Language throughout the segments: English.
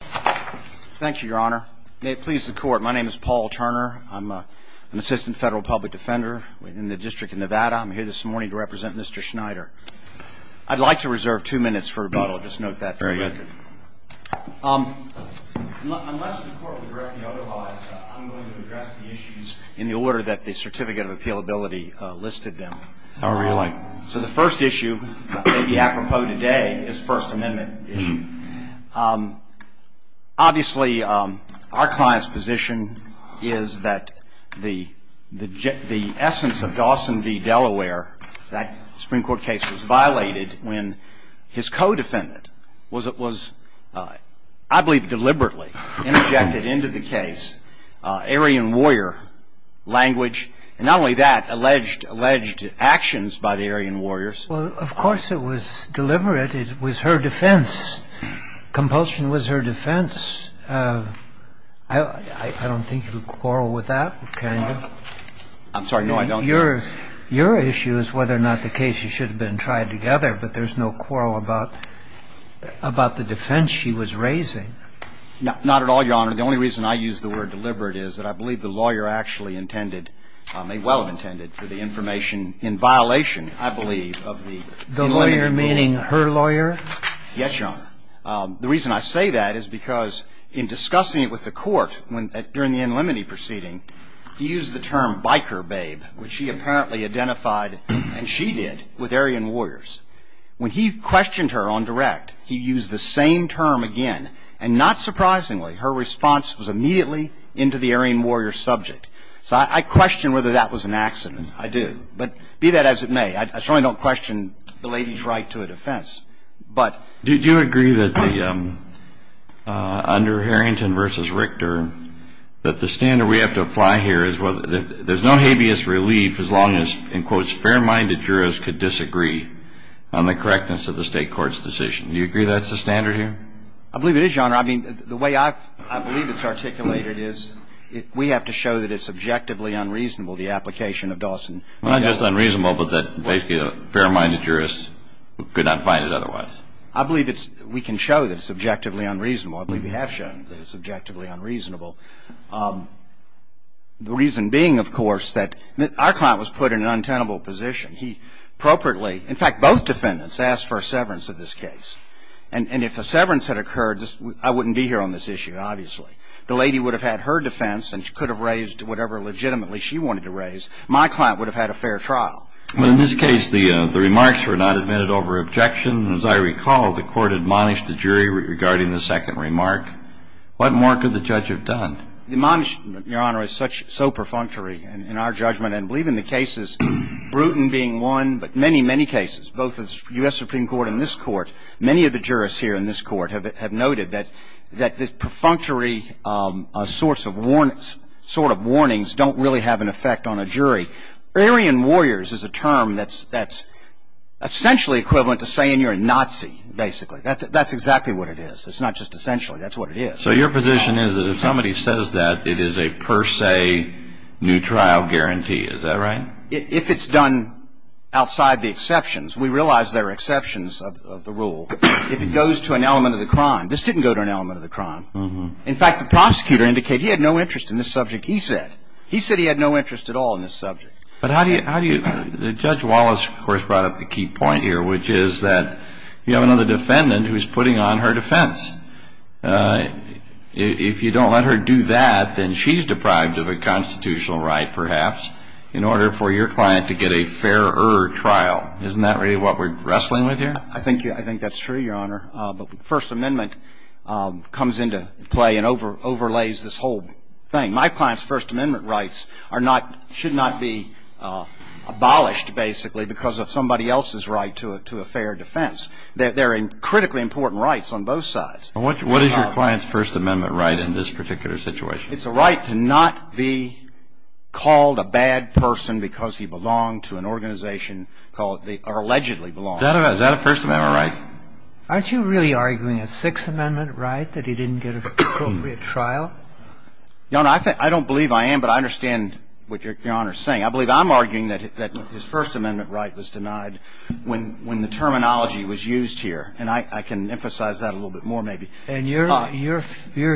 Thank you, your honor. May it please the court, my name is Paul Turner. I'm an assistant federal public defender in the District of Nevada. I'm here this morning to represent Mr. Schneider. I'd like to reserve two minutes for rebuttal. Just note that. Very good. Unless the court will directly authorize, I'm going to address the issues in the order that the Certificate of Appealability listed them. However you like. So the first issue, maybe apropos today, is the First Amendment issue. Obviously, our client's position is that the essence of Dawson v. Delaware, that Supreme Court case was violated when his co-defendant was, I believe deliberately, injected into the case Aryan warrior language, and not only that, alleged actions by the Aryan warriors. Well, of course it was deliberate. It was her defense. Compulsion was her defense. I don't think you would quarrel with that, kind of. I'm sorry. No, I don't. Your issue is whether or not the case should have been tried together, but there's no quarrel about the defense she was raising. Not at all, Your Honor. The only reason I use the word deliberate is that I believe the lawyer actually intended, may well have intended, for the information in violation, I believe, of the inlimity proceeding. The lawyer meaning her lawyer? Yes, Your Honor. The reason I say that is because in discussing it with the court during the inlimity proceeding, he used the term biker babe, which she apparently identified, and she did, with Aryan warriors. When he questioned her on direct, he used the same term again. And not surprisingly, her response was immediately into the Aryan warrior subject. So I question whether that was an accident. I do. But be that as it may, I certainly don't question the lady's right to a defense. Did you agree that under Harrington v. Richter, that the standard we have to apply here is there's no habeas relief as long as, in quotes, fair-minded jurors could disagree on the correctness of the state court's decision. Do you agree that's the standard here? I believe it is, Your Honor. I mean, the way I believe it's articulated is we have to show that it's objectively unreasonable, the application of Dawson. Well, not just unreasonable, but that fair-minded jurors could not find it otherwise. I believe we can show that it's objectively unreasonable. I believe we have shown that it's objectively unreasonable. The reason being, of course, that our client was put in an untenable position. He appropriately, in fact, both defendants asked for a severance of this case. And if a severance had occurred, I wouldn't be here on this issue, obviously. The lady would have had her defense and could have raised whatever legitimately she wanted to raise. My client would have had a fair trial. Well, in this case, the remarks were not admitted over objection. As I recall, the court admonished the jury regarding the second remark. What more could the judge have done? The admonishment, Your Honor, is so perfunctory in our judgment. And I believe in the cases, Bruton being one, but many, many cases, both the U.S. Supreme Court and this court, many of the jurists here in this court have noted that this perfunctory sort of warnings don't really have an effect on a jury. Aryan warriors is a term that's essentially equivalent to saying you're a Nazi, basically. That's exactly what it is. It's not just essentially. That's what it is. So your position is that if somebody says that, it is a per se new trial guarantee. Is that right? If it's done outside the exceptions, we realize there are exceptions of the rule. If it goes to an element of the crime, this didn't go to an element of the crime. In fact, the prosecutor indicated he had no interest in the subject he said. He said he had no interest at all in this subject. But how do you – Judge Wallace, of course, brought up the key point here, which is that you have another defendant who is putting on her defense. If you don't let her do that, then she's deprived of a constitutional right, perhaps, in order for your client to get a fairer trial. Isn't that really what we're wrestling with here? I think that's true, Your Honor. But First Amendment comes into play and overlays this whole thing. My client's First Amendment rights are not – should not be abolished, basically, because of somebody else's right to a fair defense. They're critically important rights on both sides. What is your client's First Amendment right in this particular situation? It's a right to not be called a bad person because he belonged to an organization called – or allegedly belonged. Is that a First Amendment right? Aren't you really arguing a Sixth Amendment right, that he didn't get an appropriate trial? Your Honor, I don't believe I am, but I understand what Your Honor is saying. I believe I'm arguing that his First Amendment right was denied when the terminology was used here. And I can emphasize that a little bit more, maybe. And your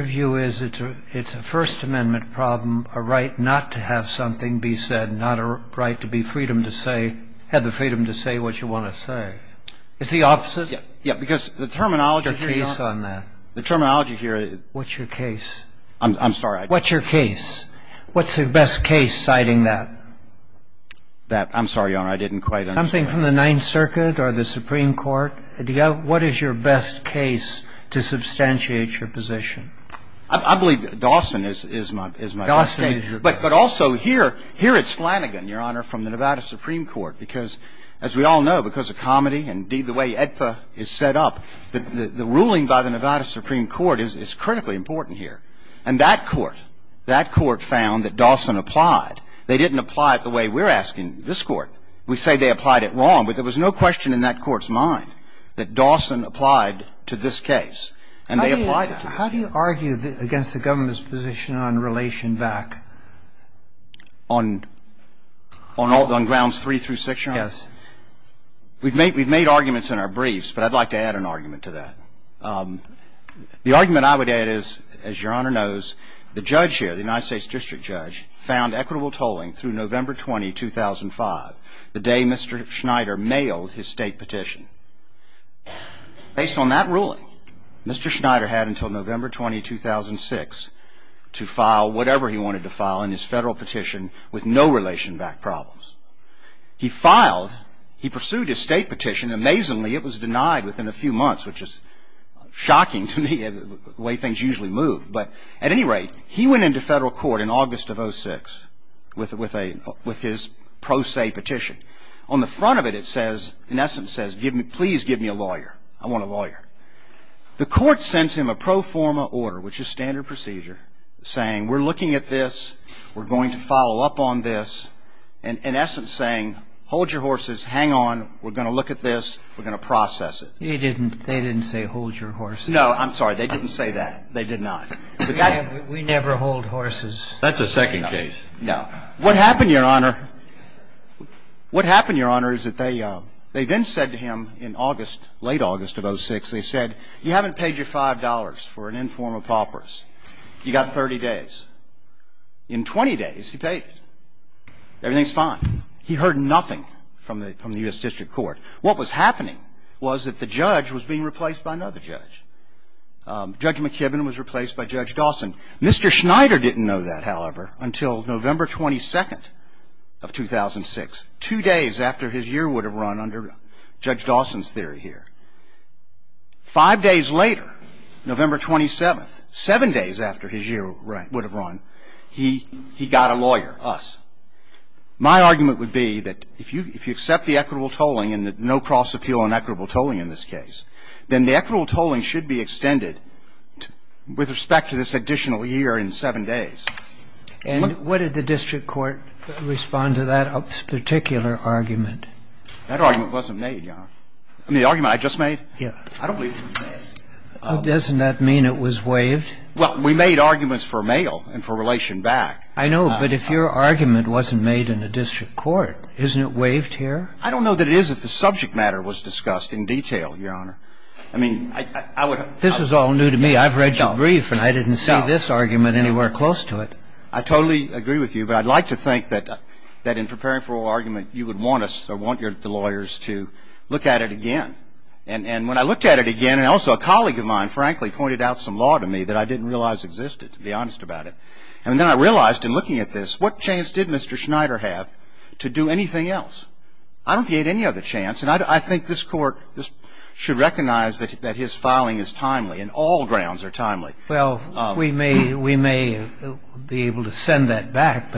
view is it's a First Amendment problem, a right not to have something be said, not a right to be freedom to say – have the freedom to say what you want to say. Is the opposite? Yeah. Because the terminology here, Your Honor – What's your case on that? The terminology here – What's your case? I'm sorry. What's your case? What's the best case citing that? That – I'm sorry, Your Honor. I didn't quite understand. Anything from the Ninth Circuit or the Supreme Court? What is your best case to substantiate your position? I believe Dawson is my best case. Dawson is your best case. But also here, here it's Flanagan, Your Honor, from the Nevada Supreme Court. Because, as we all know, because of comedy and, indeed, the way AEDPA is set up, the ruling by the Nevada Supreme Court is critically important here. And that court, that court found that Dawson applied. They didn't apply it the way we're asking this Court. We say they applied it wrong. But there was no question in that Court's mind that Dawson applied to this case. And they applied it to this case. How do you argue against the government's position on relation back? On grounds three through six, Your Honor? Yes. We've made arguments in our briefs, but I'd like to add an argument to that. The argument I would add is, as Your Honor knows, the judge here, the United States District Judge, found equitable tolling through November 20, 2005, the day Mr. Schneider mailed his state petition. Based on that ruling, Mr. Schneider had until November 20, 2006, to file whatever he wanted to file in his federal petition with no relation back problems. He filed. He pursued his state petition. Amazingly, it was denied within a few months, which is shocking to me, the way things usually move. But at any rate, he went into federal court in August of 2006 with his pro se petition. On the front of it, it says, in essence says, please give me a lawyer. I want a lawyer. The Court sends him a pro forma order, which is standard procedure, saying we're looking at this. We're going to follow up on this. And in essence saying, hold your horses. Hang on. We're going to look at this. We're going to process it. They didn't say hold your horses. No, I'm sorry. They didn't say that. They did not. We never hold horses. That's a second case. No. What happened, Your Honor, what happened, Your Honor, is that they then said to him in August, late August of 2006, they said, you haven't paid your $5 for an informal paupers. You got 30 days. In 20 days, he paid it. Everything's fine. He heard nothing from the U.S. District Court. What was happening was that the judge was being replaced by another judge. Judge McKibben was replaced by Judge Dawson. Mr. Schneider didn't know that, however, until November 22nd of 2006, two days after his year would have run under Judge Dawson's theory here. Five days later, November 27th, seven days after his year would have run, he got a lawyer, us. My argument would be that if you accept the equitable tolling and no cross appeal on equitable tolling in this case, then the equitable tolling should be extended with respect to this additional year in seven days. And what did the district court respond to that particular argument? That argument wasn't made, Your Honor. I mean, the argument I just made? Yes. I don't believe it was made. Doesn't that mean it was waived? Well, we made arguments for mail and for relation back. I know, but if your argument wasn't made in the district court, isn't it waived here? I don't know that it is if the subject matter was discussed in detail, Your Honor. I mean, I would have... This is all new to me. I've read your brief and I didn't see this argument anywhere close to it. I totally agree with you, but I'd like to think that in preparing for oral argument, you would want us or want the lawyers to look at it again. And when I looked at it again, and also a colleague of mine, frankly, pointed out some law to me that I didn't realize existed, to be honest about it. And then I realized in looking at this, what chance did Mr. Schneider have to do anything else? I don't think he had any other chance. And I think this Court should recognize that his filing is timely and all grounds are timely. Well, we may be able to send that back,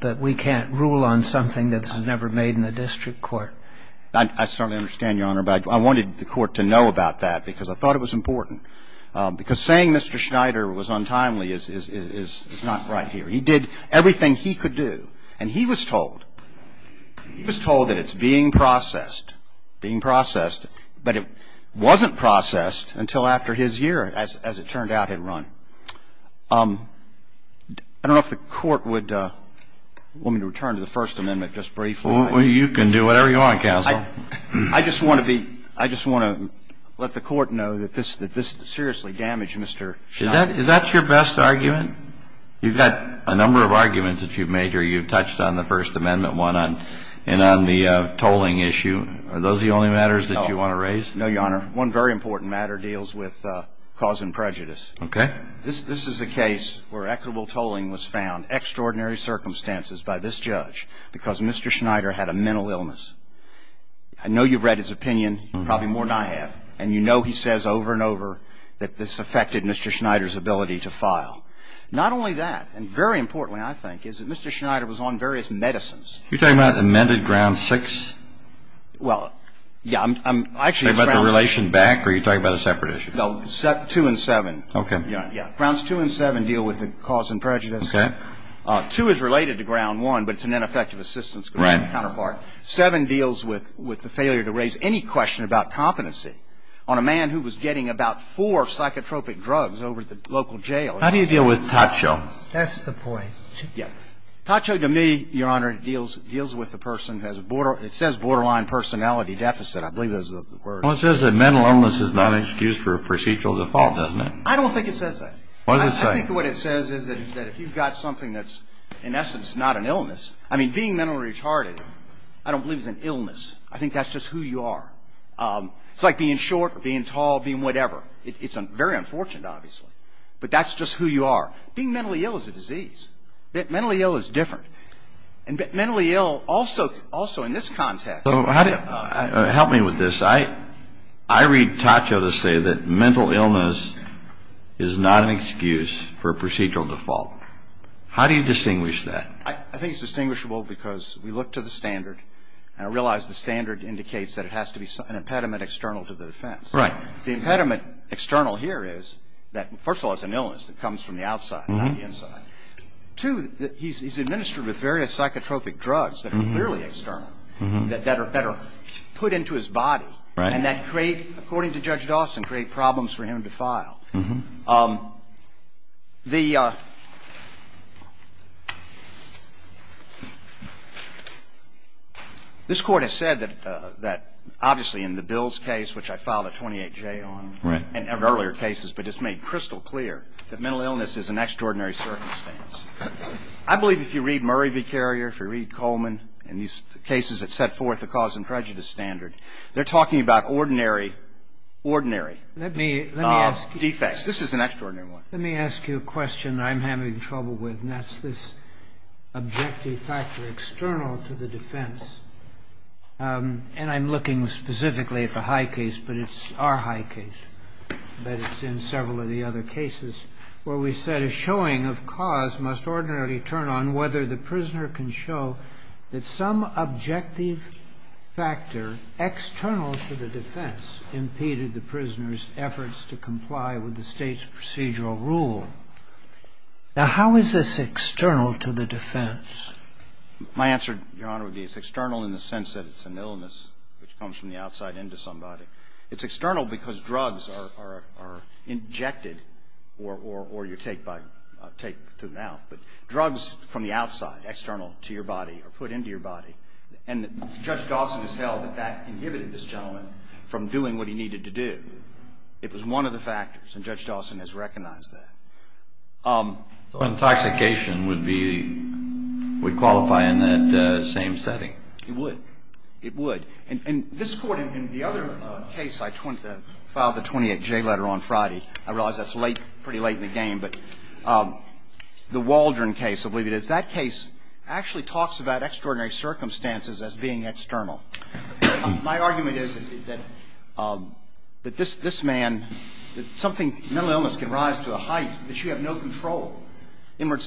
but we can't rule on something that's never made in the district court. I certainly understand, Your Honor, but I wanted the Court to know about that because I thought it was important. Because saying Mr. Schneider was untimely is not right here. He did everything he could do. And he was told. He was told that it's being processed, being processed, but it wasn't processed until after his year, as it turned out, had run. I don't know if the Court would want me to return to the First Amendment just briefly. Well, you can do whatever you want, counsel. I just want to be – I just want to let the Court know that this seriously damaged Mr. Schneider. Is that your best argument? You've got a number of arguments that you've made here. You've touched on the First Amendment one and on the tolling issue. Are those the only matters that you want to raise? No, Your Honor. One very important matter deals with cause and prejudice. Okay. This is a case where equitable tolling was found, extraordinary circumstances by this judge because Mr. Schneider had a mental illness. I know you've read his opinion, probably more than I have, and you know he says over and over that this affected Mr. Schneider's ability to file. Not only that, and very importantly, I think, is that Mr. Schneider was on various medicines. You're talking about amended Ground 6? Well, yeah, I'm actually – Are you talking about the relation back or are you talking about a separate issue? No, 2 and 7. Okay. Yeah. Grounds 2 and 7 deal with the cause and prejudice. Okay. 2 is related to Ground 1, but it's an ineffective assistance grant counterpart. Right. 7 deals with the failure to raise any question about competency on a man who was getting about four psychotropic drugs over at the local jail. How do you deal with TACO? That's the point. Yes. TACO, to me, Your Honor, deals with the person who has a borderline – it says borderline personality deficit. I believe those are the words. Well, it says that mental illness is not an excuse for procedural default, doesn't it? I don't think it says that. What does it say? I think what it says is that if you've got something that's in essence not an illness – I mean, being mentally retarded I don't believe is an illness. I think that's just who you are. It's like being short or being tall, being whatever. It's very unfortunate, obviously. But that's just who you are. Being mentally ill is a disease. Mentally ill is different. And mentally ill also in this context. Help me with this. I read TACO to say that mental illness is not an excuse for procedural default. How do you distinguish that? I think it's distinguishable because we look to the standard, and I realize the standard indicates that it has to be an impediment external to the defense. Right. The impediment external here is that, first of all, it's an illness that comes from the outside, not the inside. Two, he's administered with various psychotropic drugs that are clearly external, that are put into his body. Right. And that create, according to Judge Dawson, create problems for him to file. This Court has said that, obviously, in the Bills case, which I filed a 28-J on, in earlier cases, but it's made crystal clear that mental illness is an extraordinary circumstance. I believe if you read Murray v. Carrier, if you read Coleman and these cases that set forth the cause and prejudice standard, they're talking about ordinary, ordinary default. Let me ask you. Let me ask you a question I'm having trouble with, and that's this objective factor external to the defense. And I'm looking specifically at the High case, but it's our High case, but it's in several of the other cases where we said a showing of cause must ordinarily turn on whether the prisoner can show that some objective factor external to the defense impeded the prisoner's efforts to comply with the State's procedural rule. Now, how is this external to the defense? My answer, Your Honor, would be it's external in the sense that it's an illness which comes from the outside into somebody. It's external because drugs are injected or you take by the mouth. But drugs from the outside, external to your body, are put into your body. And Judge Dawson has held that that inhibited this gentleman from doing what he needed to do. It was one of the factors, and Judge Dawson has recognized that. So intoxication would be, would qualify in that same setting? It would. It would. And this Court, in the other case, I filed the 28J letter on Friday. I realize that's late, pretty late in the game. But the Waldron case, I believe it is, that case actually talks about extraordinary circumstances as being external. My argument is that this man, something, mental illness can rise to a height that you have no control. In other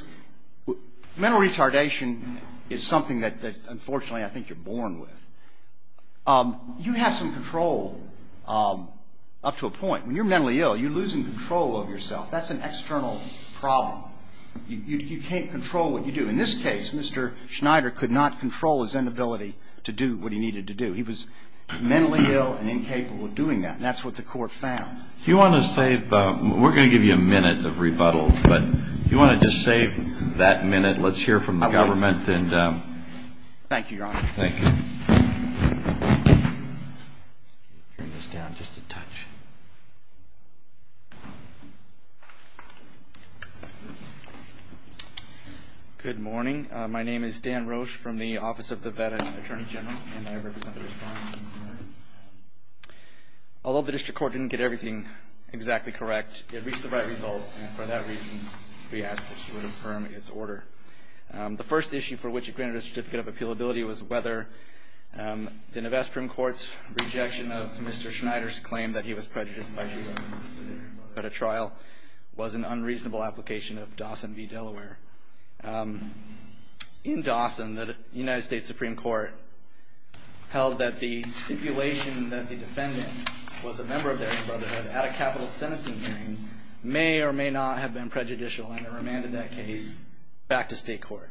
words, mental retardation is something that, unfortunately, I think you're born with. You have some control up to a point. When you're mentally ill, you're losing control of yourself. That's an external problem. You can't control what you do. In this case, Mr. Schneider could not control his inability to do what he needed to do. He was mentally ill and incapable of doing that. And that's what the Court found. If you want to save, we're going to give you a minute of rebuttal, but if you want to just save that minute, let's hear from the government. Thank you, Your Honor. Thank you. Turn this down just a touch. Good morning. My name is Dan Roche from the Office of the Veteran Attorney General, and I represent the respondent. Although the District Court didn't get everything exactly correct, it reached the right result. And for that reason, we asked that she would affirm its order. The first issue for which it granted a Certificate of Appealability was whether the Nevesta Supreme Court's rejection of Mr. Schneider's claim that he was prejudiced by his brotherhood at a trial was an unreasonable application of Dawson v. Delaware. In Dawson, the United States Supreme Court held that the stipulation that the defendant was a member of their brotherhood at a capital sentencing hearing may or may not have been back to state court.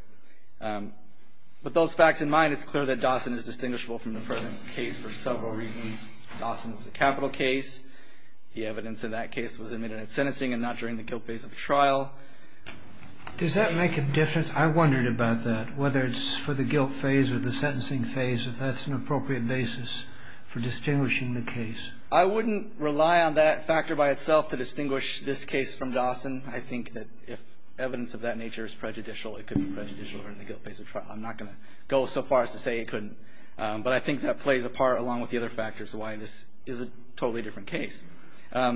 With those facts in mind, it's clear that Dawson is distinguishable from the present case for several reasons. Dawson was a capital case. The evidence in that case was admitted at sentencing and not during the guilt phase of the trial. Does that make a difference? I wondered about that, whether it's for the guilt phase or the sentencing phase, if that's an appropriate basis for distinguishing the case. I wouldn't rely on that factor by itself to distinguish this case from Dawson. I think that if evidence of that nature is prejudicial, it could be prejudicial during the guilt phase of trial. I'm not going to go so far as to say it couldn't. But I think that plays a part along with the other factors why this is a totally different case. Are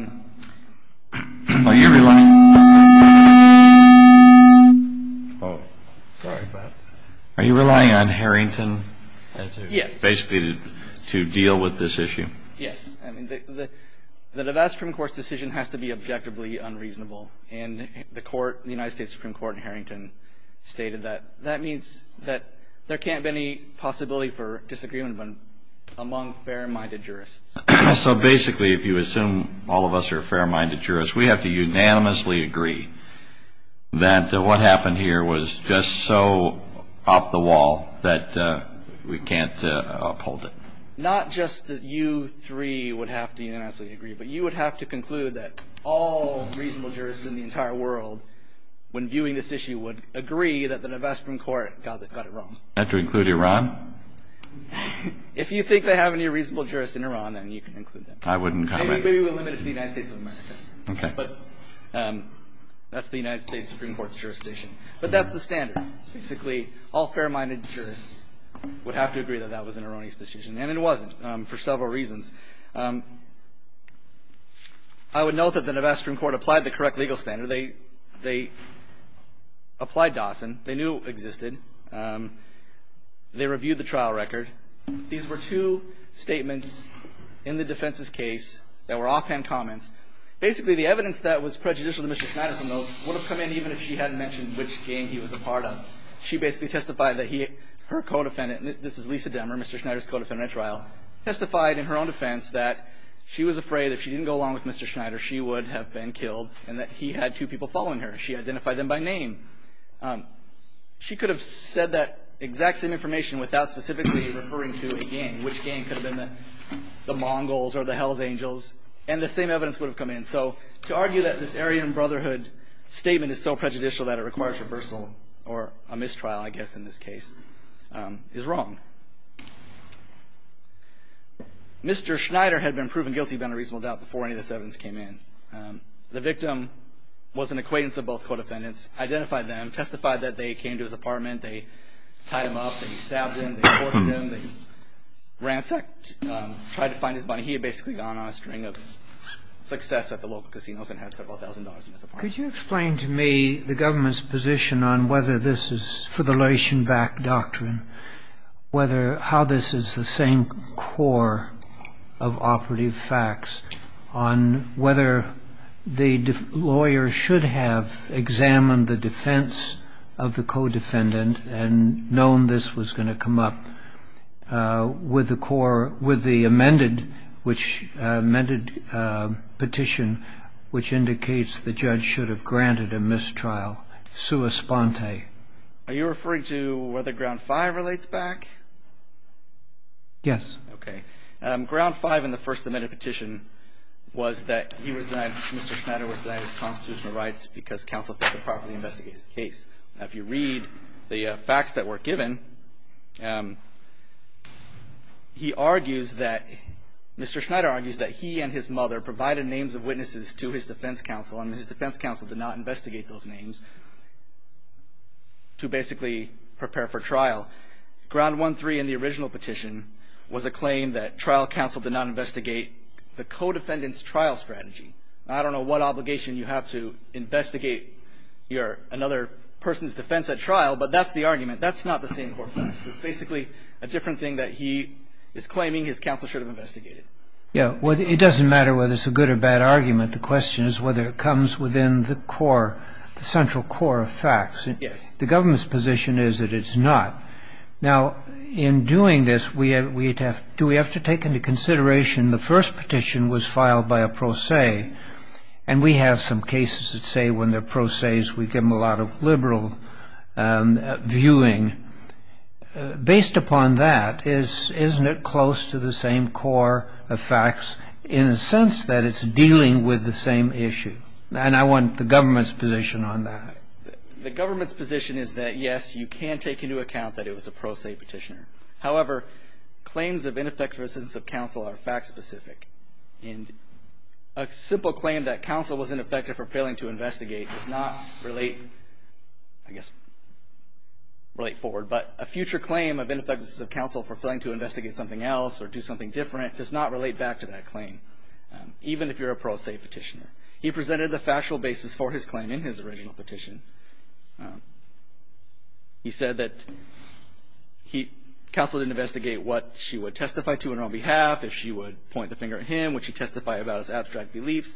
you relying on Harrington to deal with this issue? Yes. I mean, the Nevada Supreme Court's decision has to be objectively unreasonable. And the court, the United States Supreme Court in Harrington, stated that. That means that there can't be any possibility for disagreement among fair-minded jurists. So basically, if you assume all of us are fair-minded jurists, we have to unanimously agree that what happened here was just so off the wall that we can't uphold it. Not just that you three would have to unanimously agree, but you would have to conclude that all reasonable jurists in the entire world, when viewing this issue, would agree that the Nevada Supreme Court got it wrong. Not to include Iran? If you think they have any reasonable jurists in Iran, then you can include them. I wouldn't comment. Maybe we'll limit it to the United States of America. Okay. But that's the United States Supreme Court's jurisdiction. But that's the standard. Basically, all fair-minded jurists would have to agree that that was an erroneous decision. And it wasn't, for several reasons. I would note that the Nevada Supreme Court applied the correct legal standard. They applied Dawson. They knew it existed. They reviewed the trial record. These were two statements in the defense's case that were offhand comments. Basically, the evidence that was prejudicial to Mr. Schneider from those would have come in even if she hadn't mentioned which game he was a part of. She basically testified that her co-defendant, and this is Lisa Demmer, Mr. Schneider's co-defendant at trial, testified in her own defense that she was afraid if she didn't go along with Mr. Schneider, she would have been killed and that he had two people following her. She identified them by name. She could have said that exact same information without specifically referring to a gang, which gang could have been the Mongols or the Hells Angels, and the same evidence would have come in. So, to argue that this Aryan Brotherhood statement is so prejudicial that it is wrong. Mr. Schneider had been proven guilty without a reasonable doubt before any of this evidence came in. The victim was an acquaintance of both co-defendants, identified them, testified that they came to his apartment. They tied him up. They stabbed him. They tortured him. They ransacked, tried to find his money. He had basically gone on a string of success at the local casinos and had several thousand dollars in his apartment. Could you explain to me the government's position on whether this is, for the Leishenbach Doctrine, how this is the same core of operative facts on whether the lawyer should have examined the defense of the co-defendant and known this was going to come up with the core, with the amended petition, which indicates the defendant should have granted a mistrial sua sponte? Are you referring to whether Ground Five relates back? Yes. Okay. Ground Five in the first amended petition was that he was denied, Mr. Schneider was denied his constitutional rights because counsel failed to properly investigate his case. Now, if you read the facts that were given, he argues that, Mr. Schneider argues that he and his mother provided names of witnesses to his defense counsel, and his defense counsel did not investigate those names to basically prepare for trial. Ground One Three in the original petition was a claim that trial counsel did not investigate the co-defendant's trial strategy. I don't know what obligation you have to investigate another person's defense at trial, but that's the argument. That's not the same core facts. It's basically a different thing that he is claiming his counsel should have investigated. Yes. It doesn't matter whether it's a good or bad argument. The question is whether it comes within the core, the central core of facts. Yes. The government's position is that it's not. Now, in doing this, do we have to take into consideration the first petition was filed by a pro se, and we have some cases that say when they're pro ses, we give them a lot of liberal viewing. Based upon that, isn't it close to the same core of facts in the sense that it's dealing with the same issue? And I want the government's position on that. The government's position is that, yes, you can take into account that it was a pro se petitioner. However, claims of ineffective assistance of counsel are fact specific. And a simple claim that counsel was ineffective for failing to investigate does not relate, I guess, relate forward. But a future claim of ineffective assistance of counsel for failing to investigate something else or do something different does not relate back to that claim. Even if you're a pro se petitioner. He presented the factual basis for his claim in his original petition. He said that counsel didn't investigate what she would testify to and on behalf, if she would point the finger at him, would she testify about his abstract beliefs.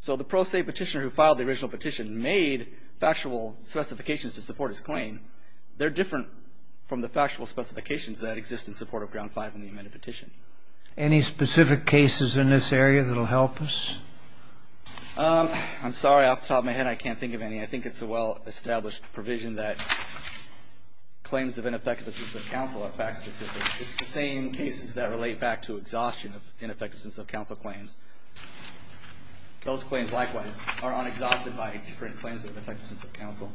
So the pro se petitioner who filed the original petition made factual specifications to support his claim. They're different from the factual specifications that exist in support of Ground Five in the amended petition. Any specific cases in this area that will help us? I'm sorry, off the top of my head, I can't think of any. I think it's a well-established provision that claims of ineffective assistance of counsel are fact specific. It's the same cases that relate back to exhaustion of ineffective assistance of counsel claims. Those claims, likewise, are unexhausted by different claims of ineffective assistance of counsel.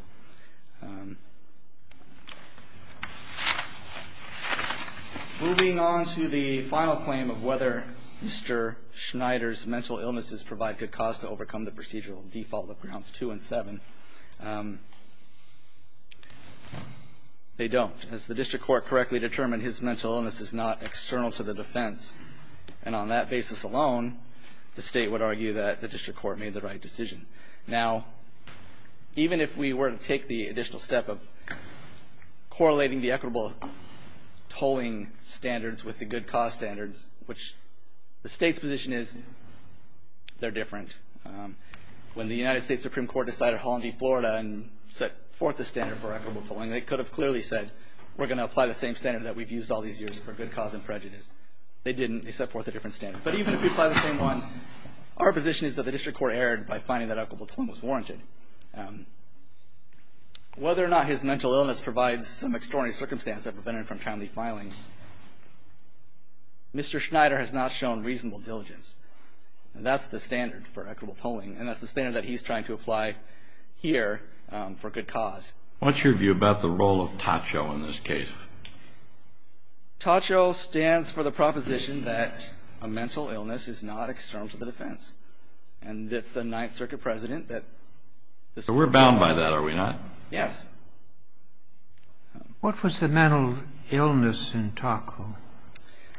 Moving on to the final claim of whether Mr. Schneider's mental illnesses provide good cause to overcome the procedural default of Grounds Two and Seven. They don't. As the district court correctly determined, his mental illness is not external to the defense. And on that basis alone, the state would argue that the district court made the right decision. Now, even if we were to take the additional step of correlating the equitable tolling standards with the good cause standards, which the state's position is they're different. When the United States Supreme Court decided at Holland v. Florida and set forth the standard for equitable tolling, they could have clearly said, we're going to apply the same standard that we've used all these years for good cause and prejudice. They didn't. They set forth a different standard. But even if we apply the same one, our position is that the district court fared by finding that equitable tolling was warranted. Whether or not his mental illness provides some extraordinary circumstance that prevented him from timely filing, Mr. Schneider has not shown reasonable diligence. And that's the standard for equitable tolling. And that's the standard that he's trying to apply here for good cause. What's your view about the role of TACHO in this case? TACHO stands for the proposition that a mental illness is not external to the defense. And it's the Ninth Circuit president that this was a problem. So we're bound by that, are we not? Yes. What was the mental illness in TACHO?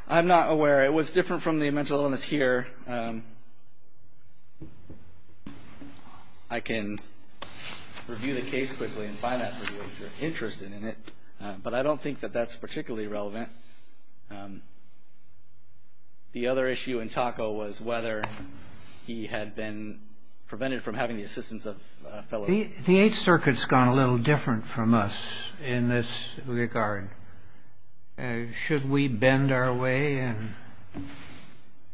I'm not aware. It was different from the mental illness here. I can review the case quickly and find out if you're interested in it. But I don't think that that's particularly relevant. The other issue in TACHO was whether he had been prevented from having the assistance of a fellow. The Eighth Circuit's gone a little different from us in this regard. Should we bend our way and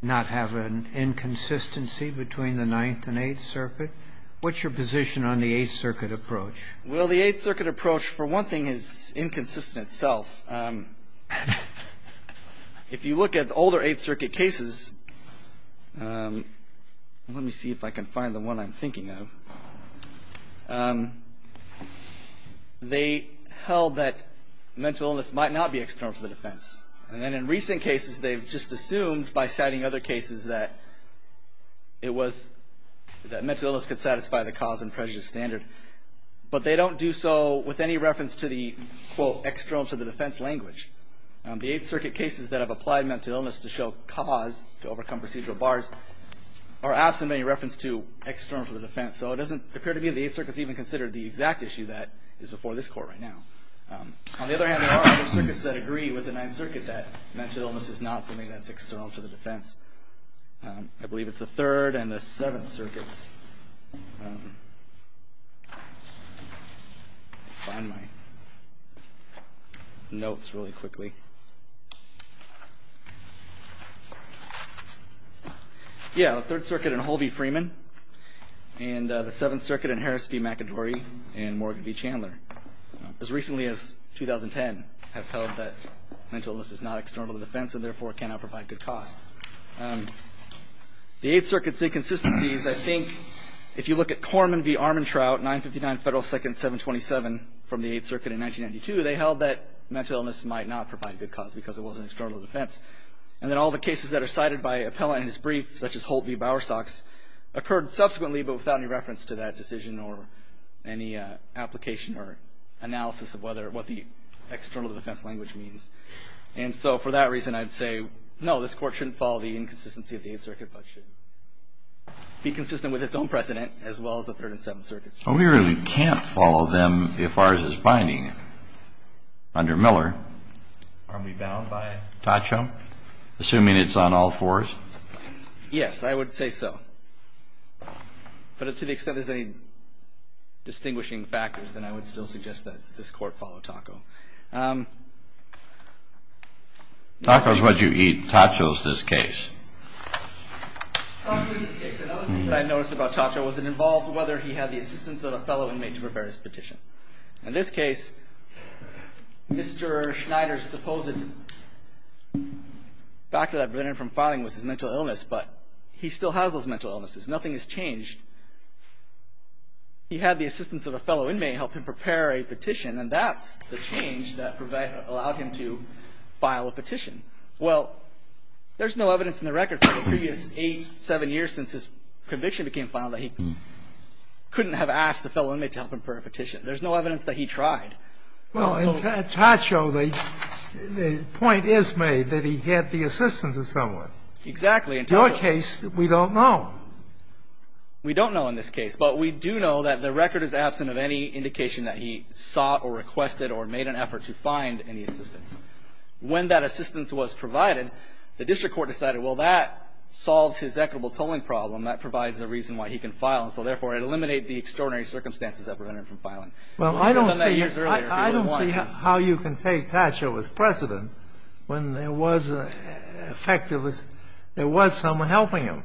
not have an inconsistency between the Ninth and Eighth Circuit? What's your position on the Eighth Circuit approach? Well, the Eighth Circuit approach, for one thing, is inconsistent itself. If you look at older Eighth Circuit cases, let me see if I can find the one I'm thinking of. They held that mental illness might not be external to the defense. And then in recent cases, they've just assumed by citing other cases that it was that mental illness could satisfy the cause and prejudice standard. But they don't do so with any reference to the, quote, external to the defense language. The Eighth Circuit cases that have applied mental illness to show cause to overcome procedural bars are absent any reference to external to the defense. So it doesn't appear to me that the Eighth Circuit has even considered the exact issue that is before this court right now. On the other hand, there are other circuits that agree with the Ninth Circuit that mental illness is not something that's external to the defense. I believe it's the Third and the Seventh Circuits. Let me find my notes really quickly. Yeah, the Third Circuit in Holby-Freeman and the Seventh Circuit in Harris v. McAdory and Morgan v. Chandler. As recently as 2010 have held that mental illness is not external to the cause. The Eighth Circuit's inconsistencies, I think, if you look at Korman v. Armantrout, 959 Federal Second 727 from the Eighth Circuit in 1992, they held that mental illness might not provide good cause because it wasn't external to the defense. And then all the cases that are cited by appellant in this brief, such as Holt v. Bowersox, occurred subsequently but without any reference to that decision or any application or analysis of what the external to the defense language means. And so for that reason, I'd say, no, this Court shouldn't follow the inconsistency of the Eighth Circuit but should be consistent with its own precedent as well as the Third and Seventh Circuits. But we really can't follow them if ours is binding under Miller. Aren't we bound by Tacho, assuming it's on all fours? Yes, I would say so. But to the extent there's any distinguishing factors, then I would still suggest that this Court follow Tacho. Tacho is what you eat. Tacho is this case. Tacho is this case. Another thing that I noticed about Tacho was it involved whether he had the assistance of a fellow inmate to prepare his petition. In this case, Mr. Schneider's supposed factor that prevented him from filing was his mental illness, but he still has those mental illnesses. Nothing has changed. He had the assistance of a fellow inmate help him prepare a petition, and that's the change that allowed him to file a petition. Well, there's no evidence in the record for the previous eight, seven years since his conviction became final that he couldn't have asked a fellow inmate to help him prepare a petition. There's no evidence that he tried. Well, in Tacho, the point is made that he had the assistance of someone. Exactly. In Tacho's case, we don't know. We don't know in this case. But we do know that the record is absent of any indication that he sought or requested or made an effort to find any assistance. When that assistance was provided, the district court decided, well, that solves his equitable tolling problem. That provides a reason why he can file. And so, therefore, it eliminated the extraordinary circumstances that prevented him from filing. Well, I don't see how you can take Tacho with precedent when there was an effect that was there was someone helping him.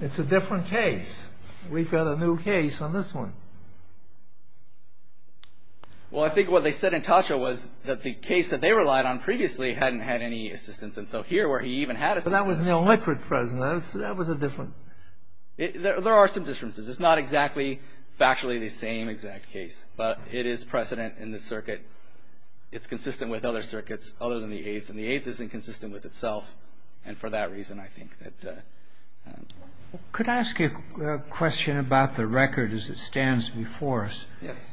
It's a different case. We've got a new case on this one. Well, I think what they said in Tacho was that the case that they relied on previously hadn't had any assistance. And so here where he even had assistance. But that was an illiquid precedent. That was a different. There are some differences. It's not exactly factually the same exact case. But it is precedent in the circuit. It's consistent with other circuits other than the Eighth. And the Eighth isn't consistent with itself. And for that reason, I think that. Could I ask you a question about the record as it stands before us? Yes.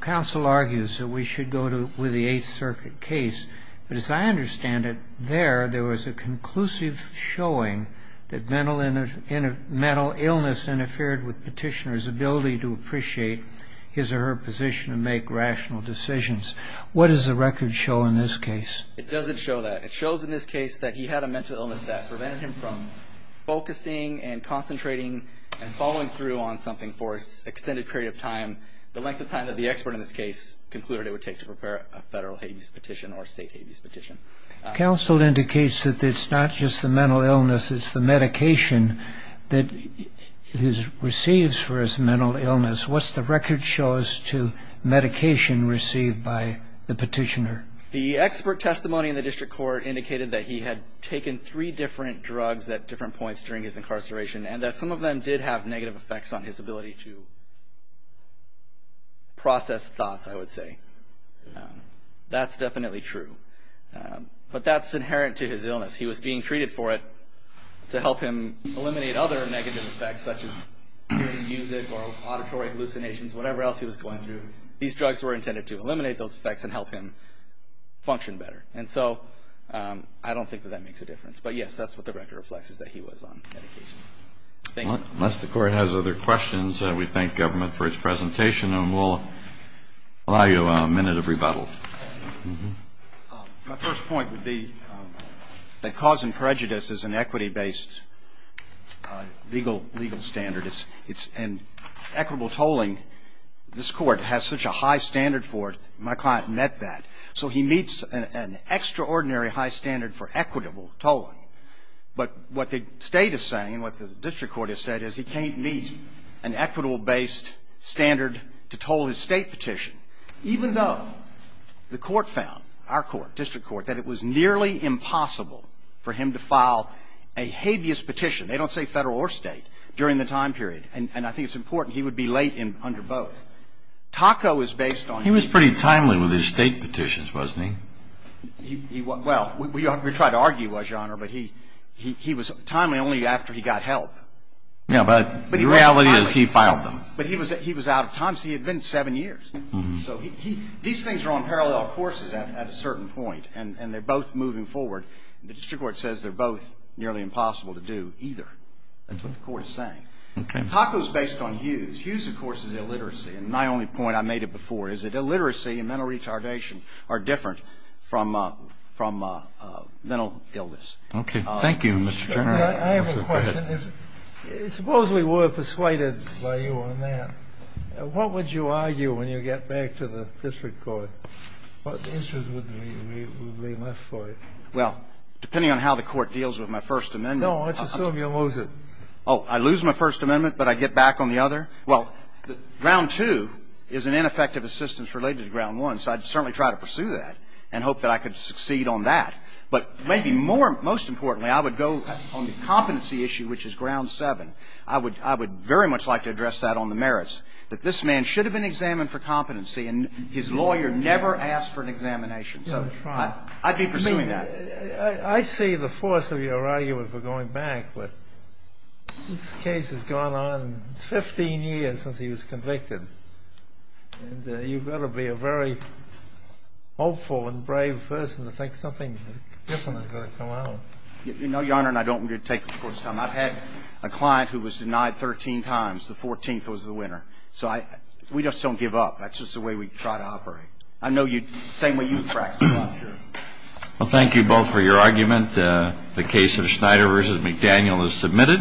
Counsel argues that we should go with the Eighth Circuit case. But as I understand it, there, there was a conclusive showing that mental illness interfered with Petitioner's ability to appreciate his or her position and make rational decisions. What does the record show in this case? It doesn't show that. It shows in this case that he had a mental illness that prevented him from focusing and concentrating and following through on something for an extended period of time, the length of time that the expert in this case concluded it would take to prepare a federal habeas petition or a state habeas petition. Counsel indicates that it's not just the mental illness. It's the medication that he receives for his mental illness. What's the record show as to medication received by the Petitioner? The expert testimony in the district court indicated that he had taken three different drugs at different points during his incarceration and that some of them did have negative effects on his ability to process thoughts, I would say. That's definitely true. But that's inherent to his illness. He was being treated for it to help him eliminate other negative effects such as music or auditory hallucinations, whatever else he was going through. These drugs were intended to eliminate those effects and help him function better. And so I don't think that that makes a difference. But, yes, that's what the record reflects is that he was on medication. Thank you. Unless the Court has other questions, we thank government for its presentation and we'll allow you a minute of rebuttal. My first point would be that cause and prejudice is an equity-based legal standard and equitable tolling, this Court has such a high standard for it. My client met that. So he meets an extraordinary high standard for equitable tolling. But what the state is saying and what the district court has said is he can't meet an equitable-based standard to toll his state petition, even though the court found, our court, district court, that it was nearly impossible for him to file a habeas petition. They don't say federal or state during the time period. And I think it's important. He would be late under both. TACO is based on... He was pretty timely with his state petitions, wasn't he? Well, we tried to argue he was, Your Honor, but he was timely only after he got help. Yeah, but the reality is he filed them. But he was out of time. See, it had been seven years. So these things are on parallel courses at a certain point and they're both moving forward. The district court says they're both nearly impossible to do either. That's what the court is saying. Okay. TACO is based on Hughes. Hughes, of course, is illiteracy. And my only point, I made it before, is that illiteracy and mental retardation are different from mental illness. Okay. Thank you, Mr. Chairman. I have a question. Suppose we were persuaded by you on that. What would you argue when you get back to the district court? What answers would be left for you? Well, depending on how the court deals with my First Amendment. No, let's assume you lose it. Oh, I lose my First Amendment but I get back on the other? Well, Ground 2 is an ineffective assistance related to Ground 1, so I'd certainly try to pursue that and hope that I could succeed on that. But maybe more, most importantly, I would go on the competency issue, which is Ground 7. I would very much like to address that on the merits, that this man should have been examined for competency and his lawyer never asked for an examination. So I'd be pursuing that. I see the force of your argument for going back, but this case has gone on 15 years since he was convicted. And you've got to be a very hopeful and brave person to think something different is going to come out. No, Your Honor, and I don't mean to take up court's time. I've had a client who was denied 13 times. The 14th was the winner. So we just don't give up. That's just the way we try to operate. I know the same way you practice, Your Honor. Well, thank you both for your argument. The case of Schneider v. McDaniel is submitted.